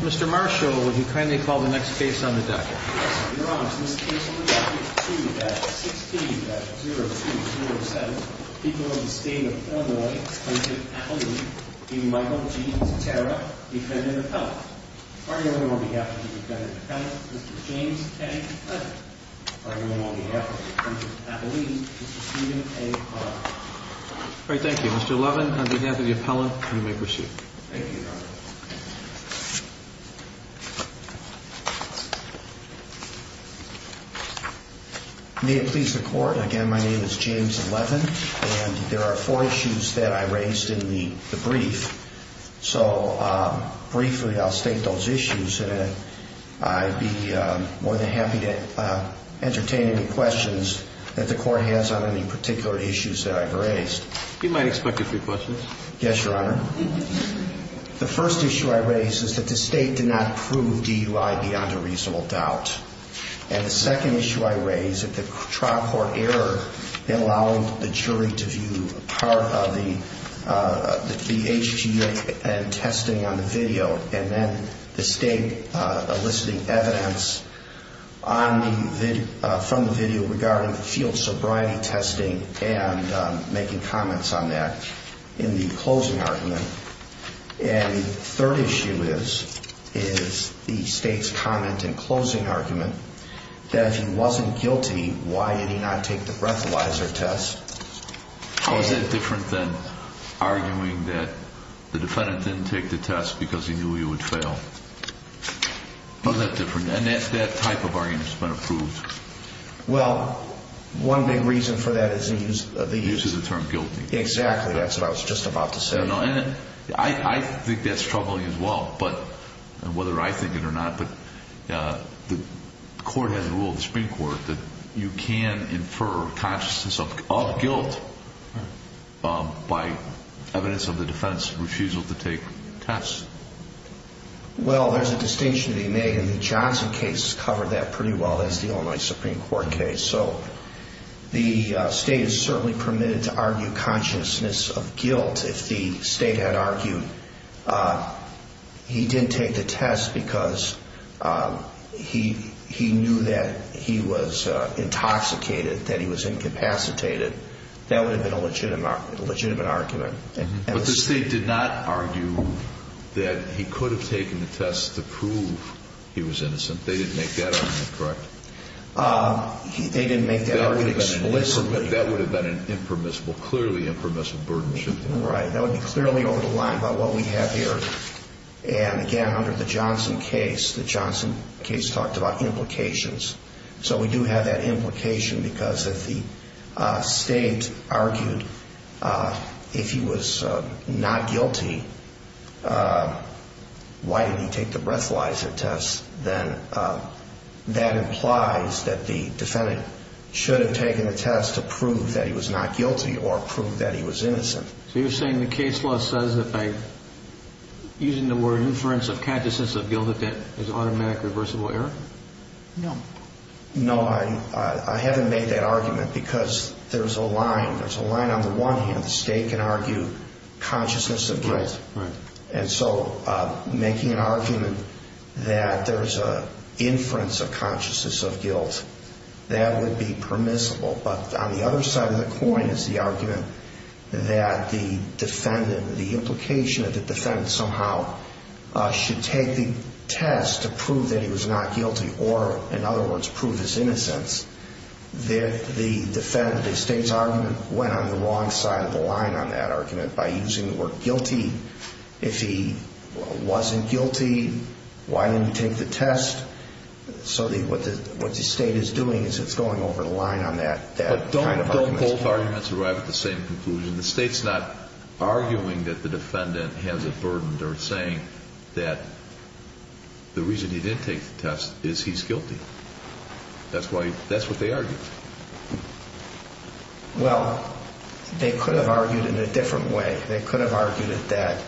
Mr. Marshall, would you kindly call the next case on the docket? Yes, Your Honor. This case on the docket is 2-16-0207, People of the State of Illinois, Appalachian, Michael G. Tatera, Defendant Appellant. Arguing on behalf of the Defendant Appellant, Mr. James T. Levin. Arguing on behalf of the Defendant Appellant, Mr. Stephen A. Hart. Thank you. Mr. Levin, on behalf of the Appellant, you may proceed. Thank you, Your Honor. May it please the Court, again, my name is James Levin, and there are four issues that I raised in the brief. So briefly, I'll state those issues, and I'd be more than happy to entertain any questions that the Court has on any particular issues that I've raised. You might expect a few questions. Yes, Your Honor. The first issue I raised is that the State did not prove DUI beyond a reasonable doubt. And the second issue I raised is that the trial court error in allowing the jury to view part of the HG and testing on the video, and then the State eliciting evidence from the video regarding the field sobriety testing and making comments on that in the closing argument. And the third issue is the State's comment in closing argument that if he wasn't guilty, why did he not take the breathalyzer test? How is that different than arguing that the defendant didn't take the test because he knew he would fail? How is that different? And that type of argument has been approved. Well, one big reason for that is the use of the term guilty. Exactly. That's what I was just about to say. I think that's troubling as well, whether I think it or not. The court has a rule, the Supreme Court, that you can infer consciousness of guilt by evidence of the defense refusal to take tests. Well, there's a distinction to be made, and the Johnson case covered that pretty well. That's the only Supreme Court case. So the State is certainly permitted to argue consciousness of guilt if the State had argued he didn't take the test because he knew that he was intoxicated, that he was incapacitated. That would have been a legitimate argument. But the State did not argue that he could have taken the test to prove he was innocent. They didn't make that argument, correct? They didn't make that argument explicitly. That would have been an impermissible, clearly impermissible burden shift. Right. That would be clearly over the line by what we have here. And again, under the Johnson case, the Johnson case talked about implications. So we do have that implication because if the State argued if he was not guilty, why did he take the breathalyzer test, then that implies that the defendant should have taken the test to prove that he was not guilty or prove that he was innocent. So you're saying the case law says that by using the word inference of consciousness of guilt that that is automatically reversible error? No. No, I haven't made that argument because there's a line. There's a line on the one hand. The State can argue consciousness of guilt. Right. And so making an argument that there's an inference of consciousness of guilt, that would be permissible. But on the other side of the coin is the argument that the defendant, the implication that the defendant somehow should take the test to prove that he was not guilty or, in other words, prove his innocence. The State's argument went on the wrong side of the line on that argument by using the word guilty. If he wasn't guilty, why didn't he take the test? So what the State is doing is it's going over the line on that kind of argument. But don't both arguments arrive at the same conclusion. The State's not arguing that the defendant has a burden. They're saying that the reason he didn't take the test is he's guilty. That's what they argued. Well, they could have argued in a different way. They could have argued that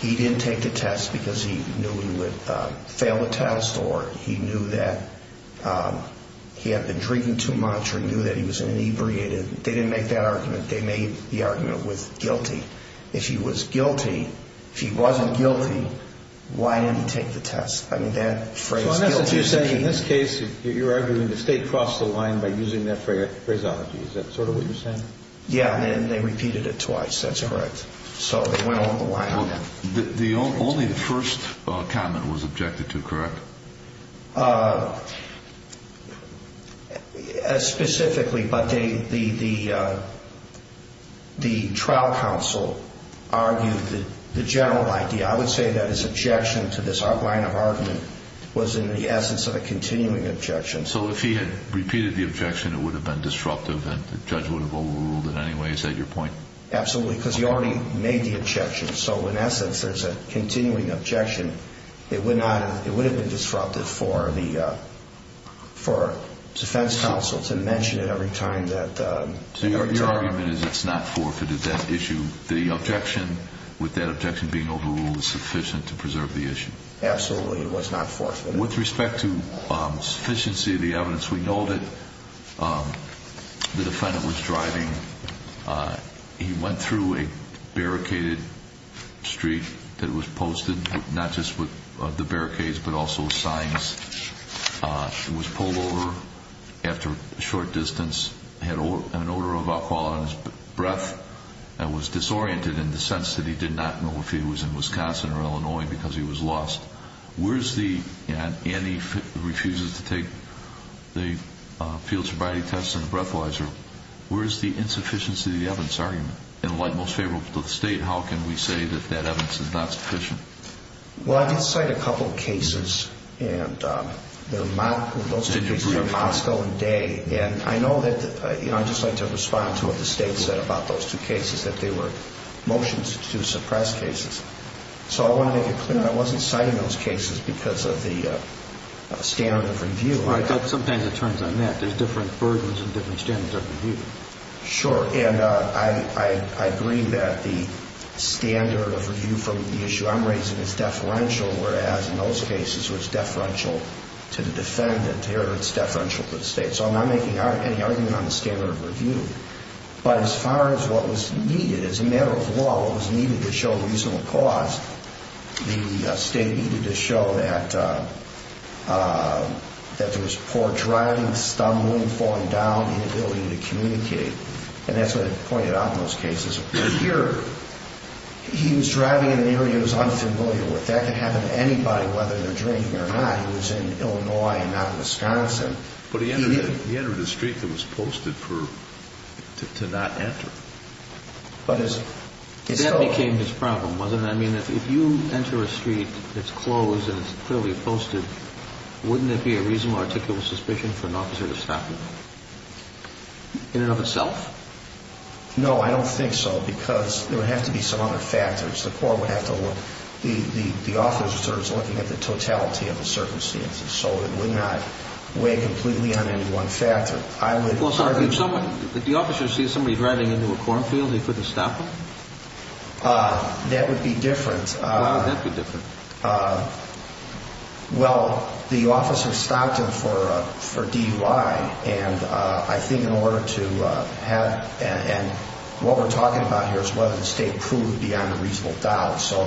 he didn't take the test because he knew he would fail the test or he knew that he had been drinking too much or knew that he was inebriated. They didn't make that argument. They made the argument with guilty. If he was guilty, if he wasn't guilty, why didn't he take the test? I mean, that phrase guilty is the key. So in essence, you're saying in this case you're arguing the State crossed the line by using that phraseology. Is that sort of what you're saying? Yeah, and they repeated it twice. That's correct. So they went over the line on that. Only the first comment was objected to, correct? Specifically, but the trial counsel argued that the general idea, I would say that his objection to this line of argument was in the essence of a continuing objection. So if he had repeated the objection, it would have been disruptive and the judge would have overruled it anyway. Is that your point? Absolutely, because he already made the objection. So in essence, there's a continuing objection. It would have been disruptive for defense counsel to mention it every time. So your argument is it's not forfeited, that issue. The objection, with that objection being overruled, is sufficient to preserve the issue. Absolutely, it was not forfeited. With respect to sufficiency of the evidence, we know that the defendant was driving. He went through a barricaded street that was posted, not just with the barricades but also signs. He was pulled over after a short distance, had an odor of alcohol on his breath, and was disoriented in the sense that he did not know if he was in Wisconsin or Illinois because he was lost. Andy refuses to take the field sobriety test and the breathalyzer. Where is the insufficiency of the evidence argument? And like most favorable to the State, how can we say that that evidence is not sufficient? Well, I did cite a couple of cases, and those two cases were Moscow and Day. And I know that I just like to respond to what the State said about those two cases, that they were motions to suppress cases. So I want to make it clear that I wasn't citing those cases because of the standard of review. Sometimes it turns on that. There's different versions and different standards of review. Sure, and I agree that the standard of review from the issue I'm raising is deferential, whereas in those cases it was deferential to the defendant. Here it's deferential to the State. So I'm not making any argument on the standard of review. But as far as what was needed, as a matter of law, what was needed to show reasonable cause, the State needed to show that there was poor driving, stumbling, falling down, inability to communicate. And that's what it pointed out in those cases. Here, he was driving in an area he was unfamiliar with. That could happen to anybody, whether they're drinking or not. He was in Illinois and not Wisconsin. But he entered a street that was posted to not enter. That became his problem, wasn't it? I mean, if you enter a street that's closed and it's clearly posted, wouldn't it be a reasonable articulable suspicion for an officer to stop you in and of itself? No, I don't think so because there would have to be some other factors. The court would have to look. The officers are looking at the totality of the circumstances. So it would not weigh completely on any one factor. Well, so if the officer sees somebody driving into a cornfield, he couldn't stop them? That would be different. Why would that be different? Well, the officer stopped him for DUI, and I think in order to have— and what we're talking about here is whether the State proved beyond a reasonable doubt. So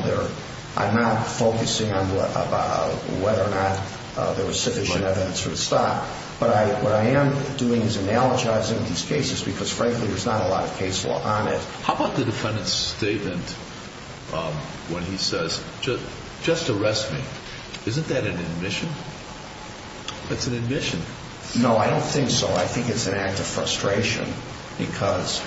I'm not focusing on whether or not there was sufficient evidence for the stop. But what I am doing is analogizing these cases because, frankly, there's not a lot of case law on it. How about the defendant's statement when he says, just arrest me? Isn't that an admission? It's an admission. No, I don't think so. I think it's an act of frustration because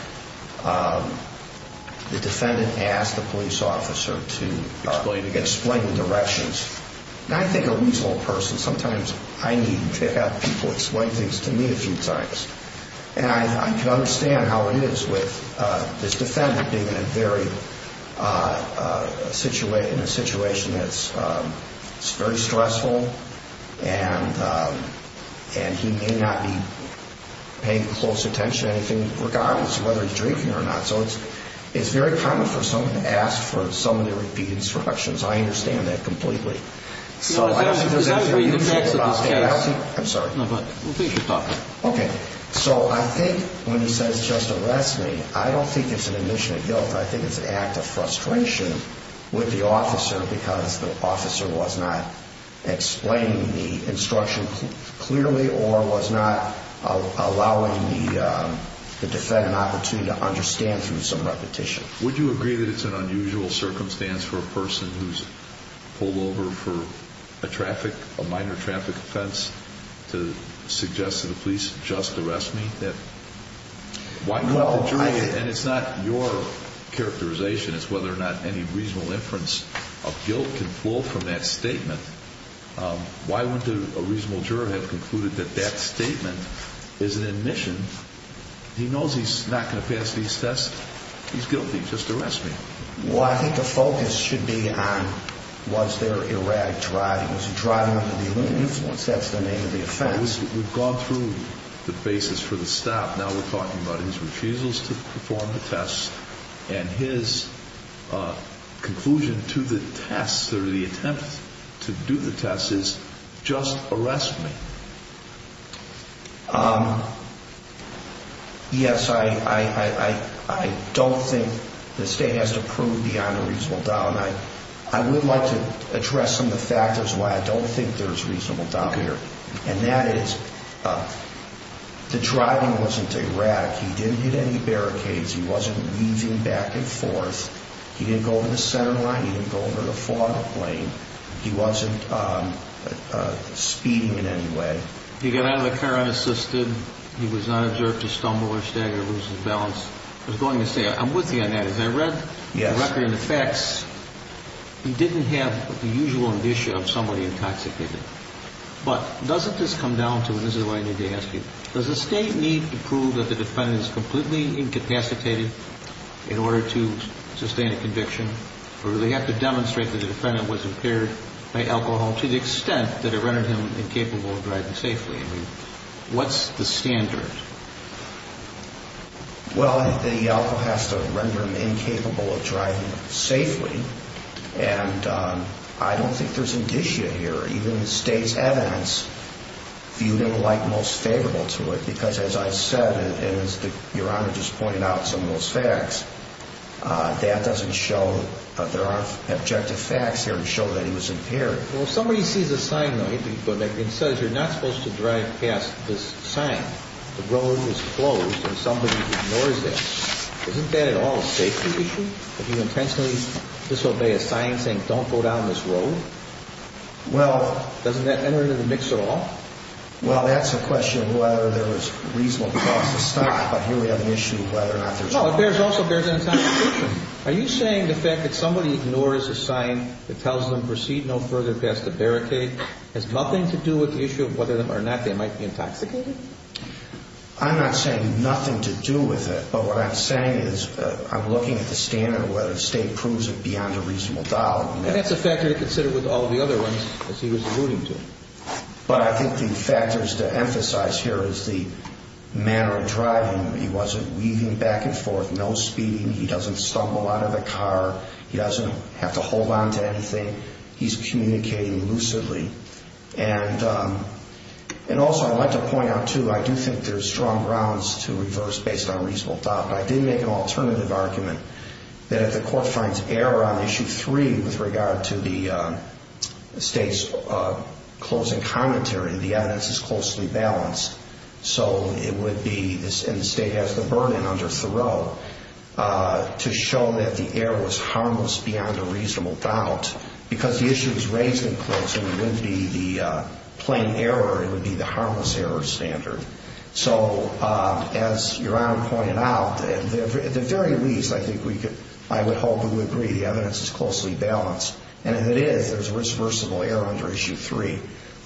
the defendant asked the police officer to explain the directions. And I think a reasonable person, sometimes I need to have people explain things to me a few times. And I can understand how it is with this defendant being in a situation that's very stressful and he may not be paying close attention to anything regardless of whether he's drinking or not. So it's very common for someone to ask for some of the repeated instructions. I understand that completely. So I don't think there's any reason— I'm sorry. No, but we'll finish your talk. Okay. So I think when he says, just arrest me, I don't think it's an admission of guilt. I think it's an act of frustration with the officer because the officer was not explaining the instruction clearly or was not allowing the defendant an opportunity to understand through some repetition. Would you agree that it's an unusual circumstance for a person who's pulled over for a minor traffic offense to suggest to the police, just arrest me? And it's not your characterization. It's whether or not any reasonable inference of guilt can flow from that statement. Why wouldn't a reasonable juror have concluded that that statement is an admission? He knows he's not going to pass these tests. He's guilty. Just arrest me. Well, I think the focus should be on was there erratic driving. Was he driving under the influence? That's the name of the offense. We've gone through the basis for the stop. Now we're talking about his refusals to perform the tests and his conclusion to the test or the attempt to do the test is, just arrest me. Yes, I don't think the state has to prove beyond a reasonable doubt. I would like to address some of the factors why I don't think there's reasonable doubt here. And that is the driving wasn't erratic. He didn't hit any barricades. He wasn't weaving back and forth. He didn't go over the center line. He didn't go over the follow-up lane. He wasn't speeding in any way. He got out of the car unassisted. He was not observed to stumble or stagger or lose his balance. I was going to say, I'm with you on that. As I read the record and the facts, he didn't have the usual indicia of somebody intoxicated. But doesn't this come down to, and this is what I need to ask you, does the state need to prove that the defendant is completely incapacitated in order to sustain a conviction or do they have to demonstrate that the defendant was impaired by alcohol to the extent that it rendered him incapable of driving safely? I mean, what's the standard? Well, the alcohol has to render him incapable of driving safely. And I don't think there's indicia here. Even the state's evidence viewed him like most favorable to it, because as I said and as Your Honor just pointed out some of those facts, that doesn't show that there are objective facts here to show that he was impaired. Well, if somebody sees a sign, though, it says you're not supposed to drive past this sign, the road is closed, and somebody ignores that, isn't that at all a safety issue? Do you intentionally disobey a sign saying don't go down this road? Well, Doesn't that enter into the mix at all? Well, that's a question of whether there was reasonable cause to stop, but here we have an issue of whether or not there's No, it also bears an intoxication. Are you saying the fact that somebody ignores a sign that tells them proceed no further past the barricade has nothing to do with the issue of whether or not they might be intoxicated? I'm not saying nothing to do with it, but what I'm saying is I'm looking at the standard of whether the state proves it beyond a reasonable doubt. And that's a factor to consider with all the other ones that he was alluding to. But I think the factors to emphasize here is the manner of driving. He wasn't weaving back and forth, no speeding. He doesn't stumble out of the car. He doesn't have to hold on to anything. He's communicating lucidly. And also I'd like to point out, too, I do think there's strong grounds to reverse based on reasonable doubt, but I did make an alternative argument that if the court finds error on Issue 3 with regard to the state's closing commentary, the evidence is closely balanced. So it would be, and the state has the burden under Thoreau, to show that the error was harmless beyond a reasonable doubt. Because the issue was raised in closing, it wouldn't be the plain error. It would be the harmless error standard. So as Your Honor pointed out, at the very least, I think we could, I would hope we would agree the evidence is closely balanced. And if it is, there's reversible error under Issue 3.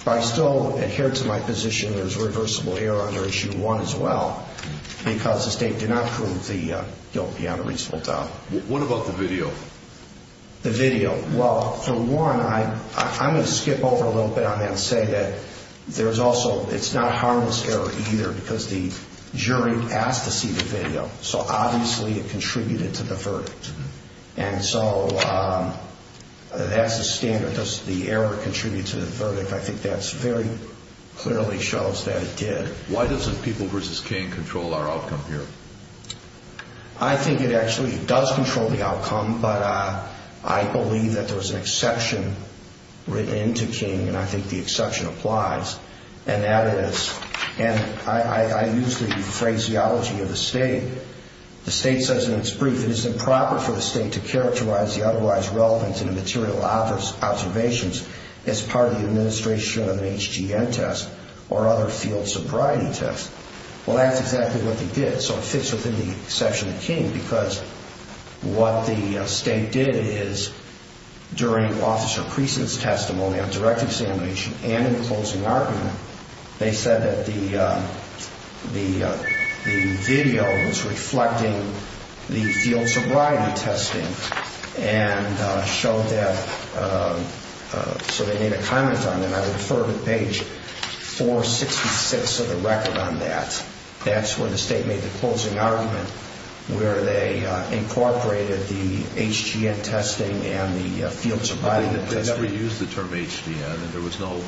But I still adhere to my position there's reversible error under Issue 1 as well because the state did not prove the guilt beyond a reasonable doubt. What about the video? The video, well, for one, I'm going to skip over a little bit on that and say that there's also, it's not harmless error either because the jury asked to see the video. So obviously it contributed to the verdict. And so that's the standard. Does the error contribute to the verdict? I think that very clearly shows that it did. Why doesn't People v. Kane control our outcome here? I think it actually does control the outcome. But I believe that there was an exception written into Kane, and I think the exception applies. And that is, and I use the phraseology of the state. The state says in its brief, it is improper for the state to characterize the otherwise relevant and immaterial observations as part of the administration of an HGN test or other field sobriety tests. Well, that's exactly what they did. So it fits within the exception of Kane because what the state did is during Officer Creason's testimony on direct examination and in the closing argument, they said that the video was reflecting the field sobriety testing and showed that, so they made a comment on it. And I would refer to page 466 of the record on that. That's where the state made the closing argument where they incorporated the HGN testing and the field sobriety testing. But they never used the term HGN, and there was no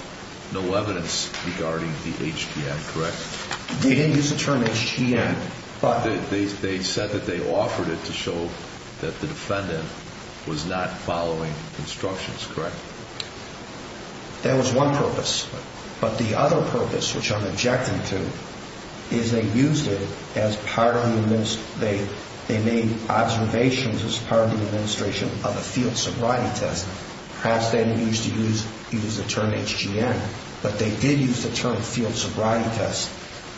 evidence regarding the HGN, correct? They didn't use the term HGN. They said that they offered it to show that the defendant was not following instructions, correct? That was one purpose. But the other purpose, which I'm objecting to, is they used it as part of the administration. They made observations as part of the administration of a field sobriety test. Perhaps they didn't use the term HGN, but they did use the term field sobriety test.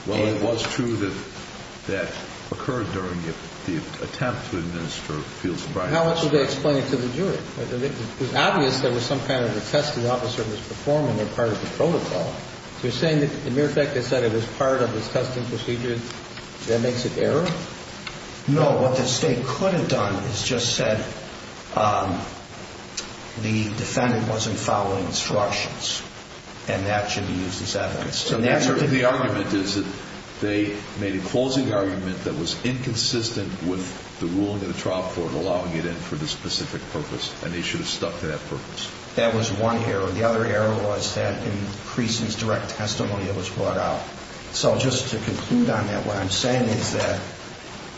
Well, it was true that that occurred during the attempt to administer field sobriety. How much did they explain it to the jury? It was obvious there was some kind of a test the officer was performing as part of the protocol. You're saying that, in mere fact, they said it was part of his testing procedure? That makes it error? No, what the state could have done is just said the defendant wasn't following instructions, and that should be used as evidence. So the answer to the argument is that they made a closing argument that was inconsistent with the ruling of the trial court allowing it in for the specific purpose, and they should have stuck to that purpose. That was one error. The other error was that in Creason's direct testimony, it was brought out. So just to conclude on that, what I'm saying is that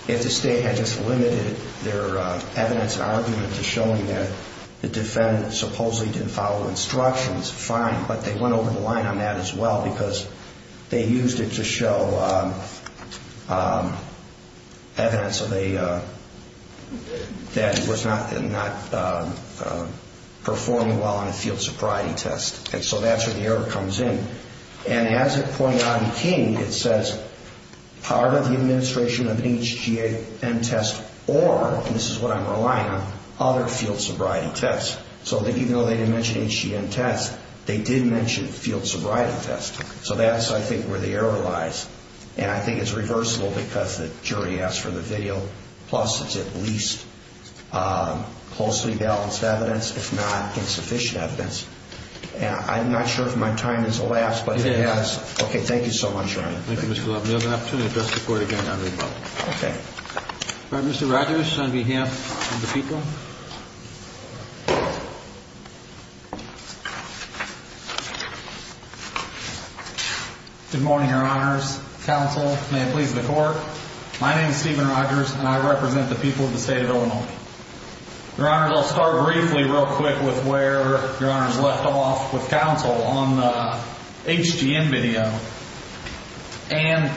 if the state had just limited their evidence and argument to showing that the defendant supposedly didn't follow instructions, fine, but they went over the line on that as well because they used it to show evidence that he was not performing well on a field sobriety test. And so that's where the error comes in. And as it pointed out in King, it says part of the administration of HGM test or, and this is what I'm relying on, other field sobriety tests. So even though they didn't mention HGM test, they did mention field sobriety test. So that's, I think, where the error lies. And I think it's reversible because the jury asked for the video. Plus, it's at least closely balanced evidence, if not insufficient evidence. And I'm not sure if my time has elapsed, but it has. Okay. Thank you so much, Your Honor. Thank you, Mr. Levin. If there's an opportunity to address the Court again, I will. Okay. All right. Mr. Rogers, on behalf of the people. Thank you. Good morning, Your Honors. Counsel, may it please the Court. My name is Steven Rogers, and I represent the people of the state of Illinois. Your Honors, I'll start briefly real quick with where Your Honors left off with counsel on the HGM video. And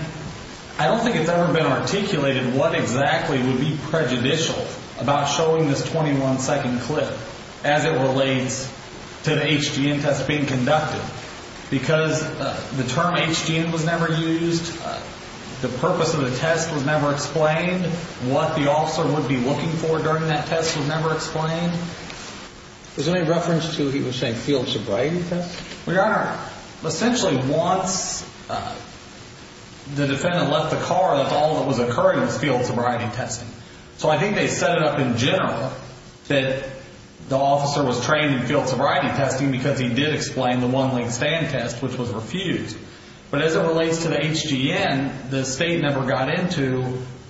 I don't think it's ever been articulated what exactly would be prejudicial about showing this 21-second clip as it relates to the HGM test being conducted. Because the term HGM was never used. The purpose of the test was never explained. What the officer would be looking for during that test was never explained. Was there any reference to, he was saying, field sobriety test? Well, Your Honor, essentially once the defendant left the car, that's all that was occurring was field sobriety testing. So I think they set it up in general that the officer was trained in field sobriety testing because he did explain the one-leg stand test, which was refused. But as it relates to the HGM, the state never got into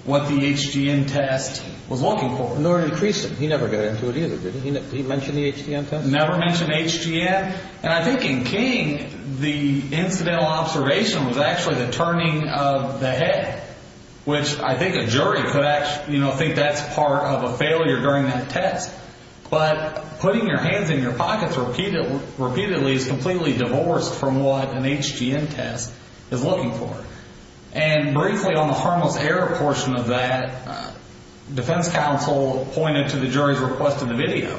what the HGM test was looking for. Nor increased it. He never got into it either, did he? Did he mention the HGM test? Never mentioned HGM. And I think in King, the incidental observation was actually the turning of the head, which I think a jury could think that's part of a failure during that test. But putting your hands in your pockets repeatedly is completely divorced from what an HGM test is looking for. And briefly on the harmless error portion of that, defense counsel pointed to the jury's request of the video.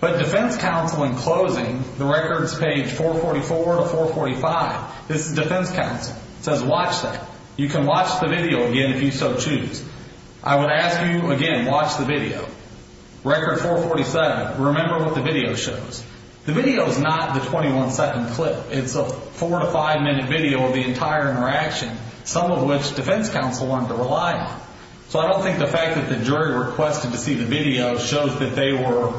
But defense counsel, in closing, the records page 444 to 445, this is defense counsel. It says watch that. You can watch the video again if you so choose. I would ask you, again, watch the video. Record 447, remember what the video shows. The video is not the 21-second clip. It's a four- to five-minute video of the entire interaction, some of which defense counsel wanted to rely on. So I don't think the fact that the jury requested to see the video shows that they were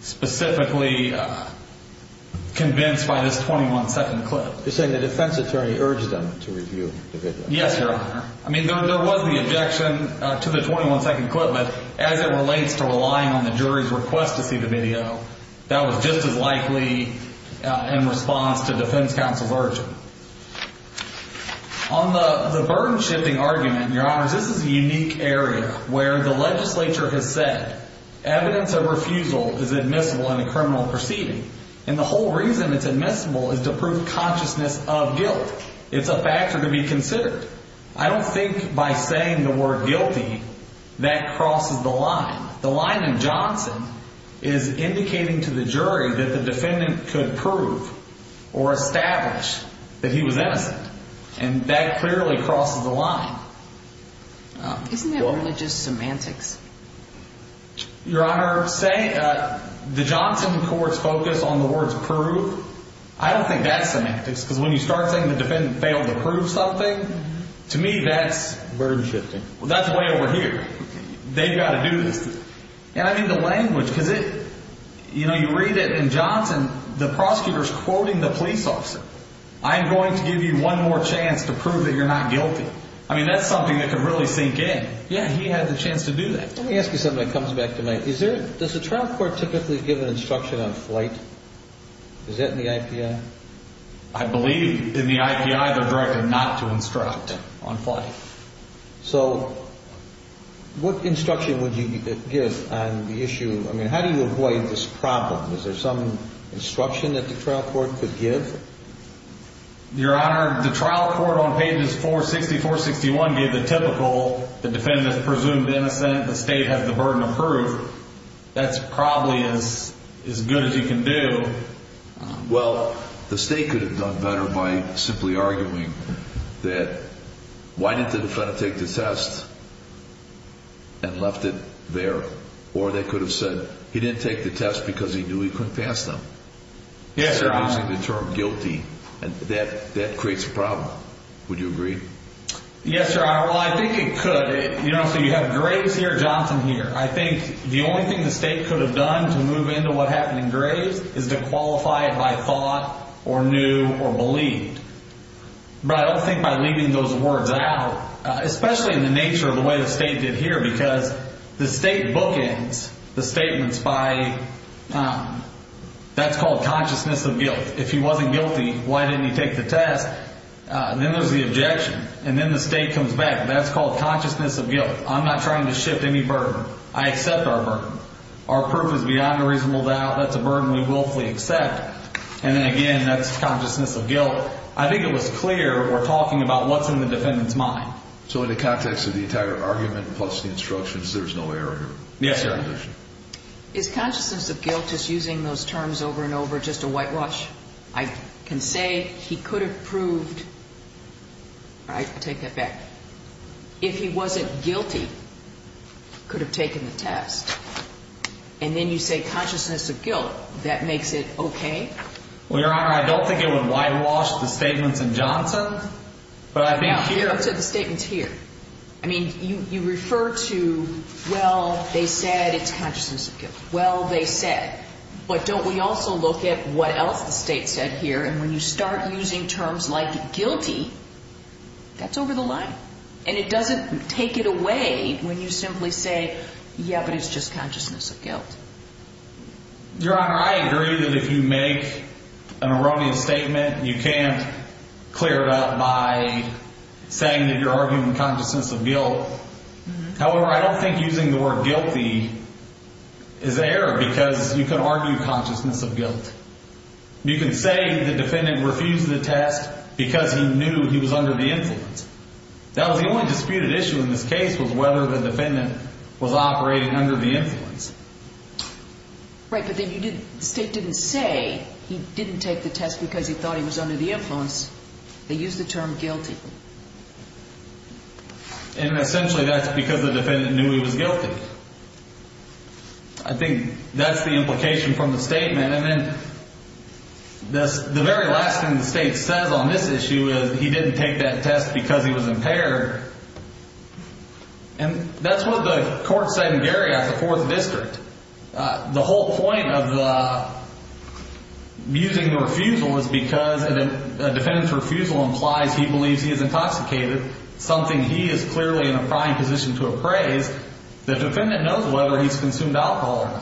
specifically convinced by this 21-second clip. You're saying the defense attorney urged them to review the video? Yes, Your Honor. I mean, there was the objection to the 21-second clip. But as it relates to relying on the jury's request to see the video, that was just as likely in response to defense counsel's urge. On the burden-shifting argument, Your Honors, this is a unique area where the legislature has said evidence of refusal is admissible in a criminal proceeding. And the whole reason it's admissible is to prove consciousness of guilt. It's a factor to be considered. I don't think by saying the word guilty that crosses the line. The line in Johnson is indicating to the jury that the defendant could prove or establish that he was innocent. And that clearly crosses the line. Isn't it really just semantics? Your Honor, the Johnson court's focus on the words prove, I don't think that's semantics. Because when you start saying the defendant failed to prove something, to me that's burden-shifting. Well, that's way over here. They've got to do this. And I mean the language, because it, you know, you read it in Johnson, the prosecutor's quoting the police officer. I'm going to give you one more chance to prove that you're not guilty. I mean, that's something that could really sink in. Yeah, he had the chance to do that. Let me ask you something that comes back to mind. Does the trial court typically give an instruction on flight? Is that in the IPI? I believe in the IPI they're directed not to instruct on flight. So what instruction would you give on the issue? I mean, how do you avoid this problem? Is there some instruction that the trial court could give? Your Honor, the trial court on pages 460, 461 gave the typical. The defendant is presumed innocent. The state has the burden of proof. That's probably as good as you can do. Well, the state could have done better by simply arguing that why didn't the defendant take the test and left it there? Or they could have said he didn't take the test because he knew he couldn't pass them. Yes, Your Honor. Instead of using the term guilty. And that creates a problem. Would you agree? Yes, Your Honor. Well, I think it could. You know, so you have Graves here, Johnson here. I think the only thing the state could have done to move into what happened in Graves is to qualify it by thought or knew or believed. But I don't think by leaving those words out, especially in the nature of the way the state did here, because the state bookends the statements by, that's called consciousness of guilt. If he wasn't guilty, why didn't he take the test? Then there's the objection. And then the state comes back. That's called consciousness of guilt. I'm not trying to shift any burden. I accept our burden. Our proof is beyond a reasonable doubt. That's a burden we willfully accept. And then again, that's consciousness of guilt. I think it was clear we're talking about what's in the defendant's mind. So in the context of the entire argument plus the instructions, there's no error here? Yes, Your Honor. Is consciousness of guilt, just using those terms over and over, just a whitewash? I can say he could have proved, right, I'll take that back. If he wasn't guilty, could have taken the test. And then you say consciousness of guilt. That makes it okay? Well, Your Honor, I don't think it would whitewash the statements in Johnson. But I think here. No. Those are the statements here. I mean, you refer to, well, they said it's consciousness of guilt. Well, they said. But don't we also look at what else the state said here? And when you start using terms like guilty, that's over the line. And it doesn't take it away when you simply say, yeah, but it's just consciousness of guilt. Your Honor, I agree that if you make an erroneous statement, you can't clear it up by saying that you're arguing consciousness of guilt. However, I don't think using the word guilty is an error because you can argue consciousness of guilt. You can say the defendant refused the test because he knew he was under the influence. That was the only disputed issue in this case was whether the defendant was operating under the influence. Right. But the state didn't say he didn't take the test because he thought he was under the influence. They used the term guilty. And essentially that's because the defendant knew he was guilty. I think that's the implication from the statement. And then the very last thing the state says on this issue is he didn't take that test because he was impaired. And that's what the court said in Garriott, the fourth district. The whole point of using the refusal is because a defendant's refusal implies he believes he is intoxicated, something he is clearly in a prying position to appraise. The defendant knows whether he's consumed alcohol.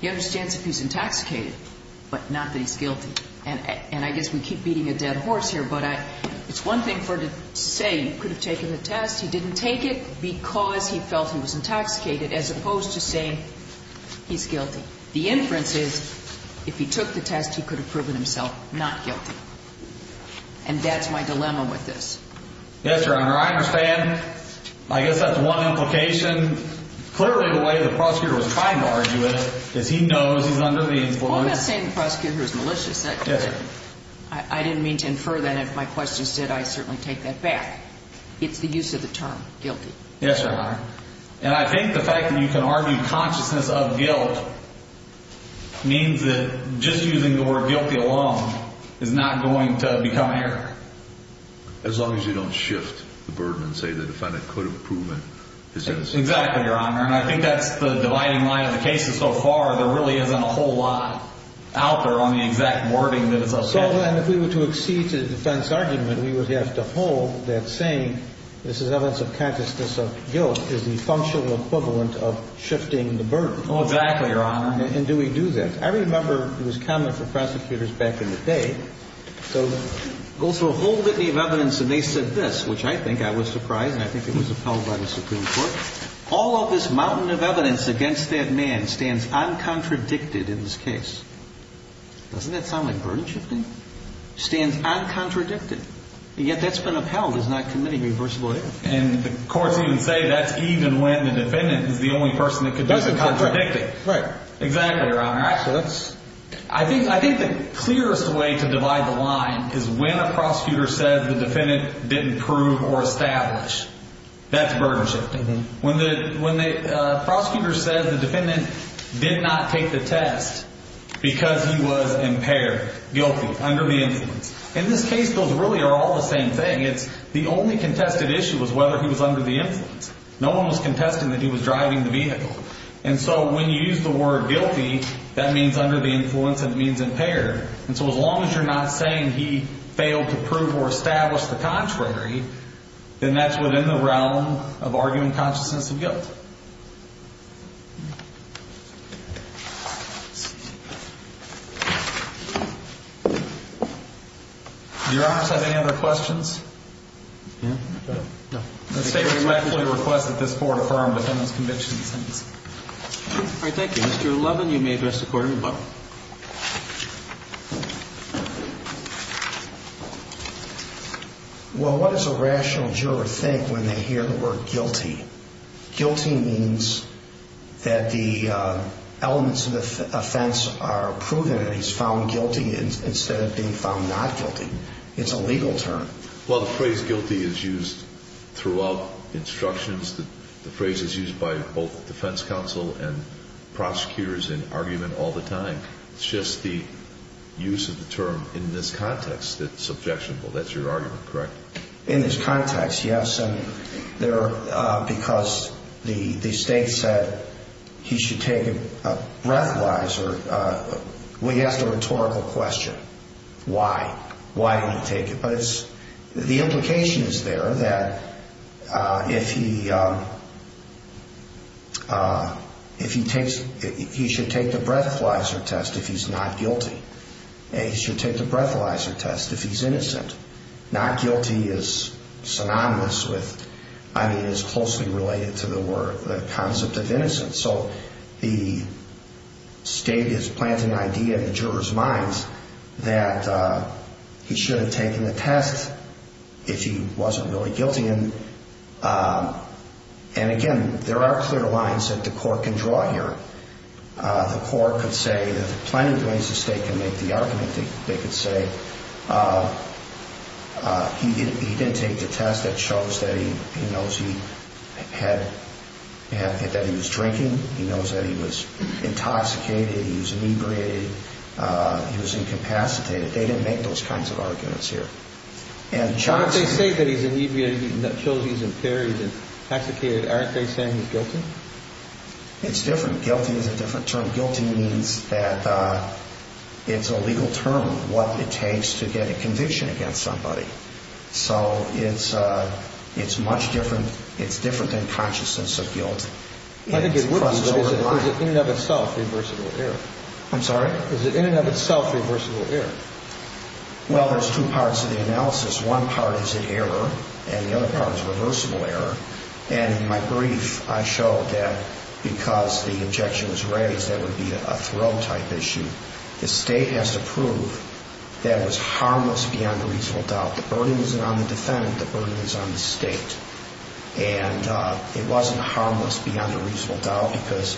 He understands if he's intoxicated, but not that he's guilty. And I guess we keep beating a dead horse here, but it's one thing for him to say he could have taken the test. He didn't take it because he felt he was intoxicated as opposed to saying he's guilty. The inference is if he took the test, he could have proven himself not guilty. And that's my dilemma with this. Yes, Your Honor. I understand. I guess that's one implication. Clearly the way the prosecutor was trying to argue it is he knows he's under the influence. Well, I'm not saying the prosecutor is malicious. I didn't mean to infer that. If my question said I certainly take that back. It's the use of the term guilty. Yes, Your Honor. And I think the fact that you can argue consciousness of guilt means that just using the word guilty alone is not going to become error. As long as you don't shift the burden and say the defendant could have proven his innocence. Exactly, Your Honor. And I think that's the dividing line of the cases so far. There really isn't a whole lot out there on the exact wording that it's associated with. So then if we were to accede to the defense argument, we would have to hold that saying this is evidence of consciousness of guilt is the functional equivalent of shifting the burden. Oh, exactly, Your Honor. And do we do that? I remember it was common for prosecutors back in the day. Go through a whole litany of evidence and they said this, which I think I was surprised and I think it was upheld by the Supreme Court. All of this mountain of evidence against that man stands uncontradicted in this case. Doesn't that sound like burden shifting? Stands uncontradicted. And yet that's been upheld as not committing reversible error. And the courts even say that's even when the defendant is the only person that could do the contradicting. Right. Exactly, Your Honor. I think the clearest way to divide the line is when a prosecutor says the defendant didn't prove or establish. That's burden shifting. When the prosecutor says the defendant did not take the test because he was impaired, guilty, under the influence. In this case, those really are all the same thing. It's the only contested issue was whether he was under the influence. And so when you use the word guilty, that means under the influence and it means impaired. And so as long as you're not saying he failed to prove or establish the contrary, then that's within the realm of arguing consciousness of guilt. Does Your Honor have any other questions? No. I respectfully request that this court affirm the defendant's conviction in this sentence. All right. Thank you. Mr. Levin, you may address the Court of Rebuttal. Well, what does a rational juror think when they hear the word guilty? Guilty means that the elements of the offense are proven and he's found guilty instead of being found not guilty. It's a legal term. Well, the phrase guilty is used throughout instructions. The phrase is used by both defense counsel and prosecutors in argument all the time. It's just the use of the term in this context that's objectionable. That's your argument, correct? In this context, yes, because the state said he should take it breath-wise. We asked a rhetorical question. Why? Why did he take it? The implication is there that if he takes it, he should take the breathalyzer test if he's not guilty. He should take the breathalyzer test if he's innocent. Not guilty is synonymous with, I mean, is closely related to the concept of innocence. So the state is planting an idea in the juror's minds that he should have taken the test if he wasn't really guilty. And, again, there are clear lines that the court can draw here. The court could say that the plaintiff believes the state can make the argument. They could say he didn't take the test. That shows that he knows he had, that he was drinking. He knows that he was intoxicated. He was inebriated. He was incapacitated. They didn't make those kinds of arguments here. And Johnson. They say that he's inebriated and that shows he's impaired and intoxicated. Aren't they saying he's guilty? It's different. Guilty is a different term. Guilty means that it's a legal term, what it takes to get a conviction against somebody. So it's much different. It's different than consciousness of guilt. I think it would be, but is it in and of itself reversible error? I'm sorry? Is it in and of itself reversible error? Well, there's two parts of the analysis. One part is error, and the other part is reversible error. And in my brief, I showed that because the objection was raised, that would be a throw-type issue. The state has to prove that it was harmless beyond a reasonable doubt. The burden isn't on the defendant. The burden is on the state. And it wasn't harmless beyond a reasonable doubt because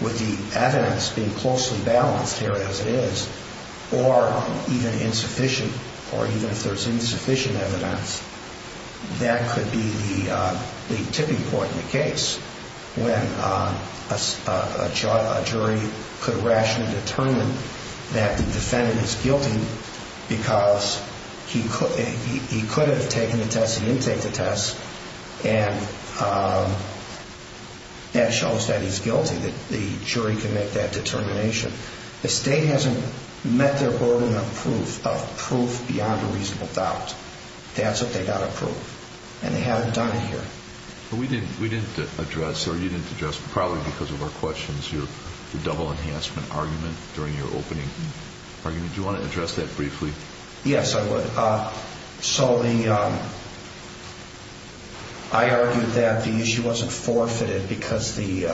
with the evidence being closely balanced here as it is, or even insufficient, or even if there's insufficient evidence, that could be the tipping point in the case when a jury could rationally determine that the defendant is guilty because he could have taken the test, he didn't take the test, and that shows that he's guilty, that the jury can make that determination. The state hasn't met their burden of proof, of proof beyond a reasonable doubt. That's what they've got to prove, and they haven't done it here. We didn't address, or you didn't address, probably because of our questions, your double enhancement argument during your opening argument. Do you want to address that briefly? Yes, I would. So I argued that the issue wasn't forfeited because the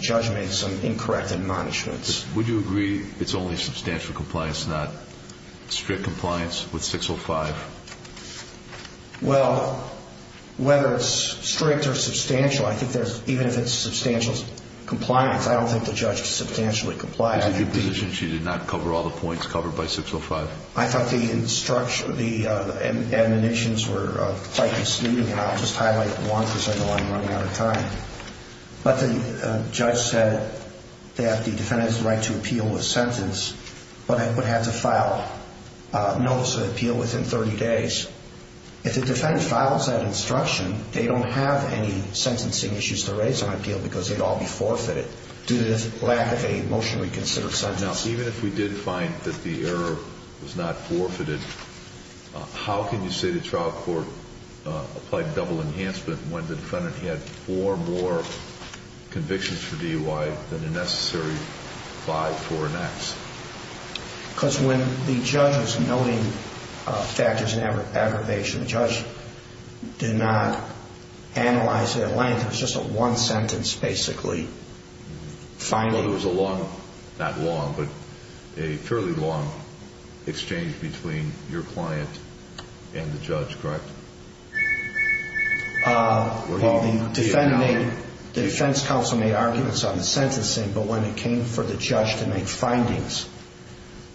judge made some incorrect admonishments. Would you agree it's only substantial compliance, not strict compliance with 605? Well, whether it's strict or substantial, I think there's, even if it's substantial compliance, I don't think the judge substantially complied. Is it your position she did not cover all the points covered by 605? I thought the instructions, the admonitions were quite misleading, and I'll just highlight one because I know I'm running out of time. But the judge said that the defendant has the right to appeal with sentence, but it would have to file a notice of appeal within 30 days. If the defendant files that instruction, they don't have any sentencing issues to raise on appeal because they'd all be forfeited due to the lack of a motionally considered sentence. Now, even if we did find that the error was not forfeited, how can you say the trial court applied double enhancement when the defendant had four more convictions for DUI than the necessary five, four, and X? Because when the judge is noting factors in aggravation, the judge did not analyze their length. It was just a one sentence, basically. It was a long, not long, but a fairly long exchange between your client and the judge, correct? Well, the defense counsel made arguments on the sentencing, but when it came for the judge to make findings,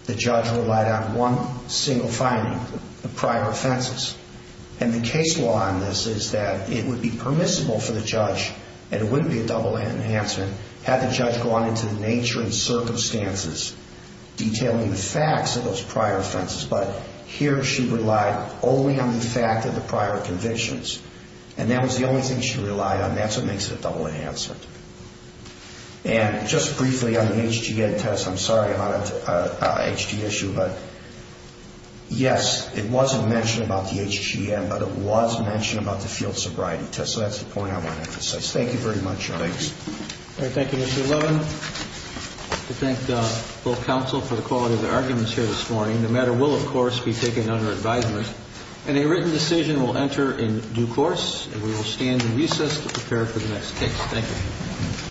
the judge relied on one single finding, the prior offenses. And the case law on this is that it would be permissible for the judge, and it wouldn't be a double enhancement had the judge gone into the nature and circumstances detailing the facts of those prior offenses, but here she relied only on the fact of the prior convictions. And that was the only thing she relied on. That's what makes it a double enhancement. And just briefly on the HGM test, I'm sorry about an HG issue, but yes, it wasn't mentioned about the HGM, but it was mentioned about the field sobriety test. So that's the point I want to emphasize. Thank you very much, Your Honor. Thanks. All right. Thank you, Mr. Levin. We thank both counsel for the quality of their arguments here this morning. The matter will, of course, be taken under advisement, and a written decision will enter in due course, and we will stand in recess to prepare for the next case. Thank you.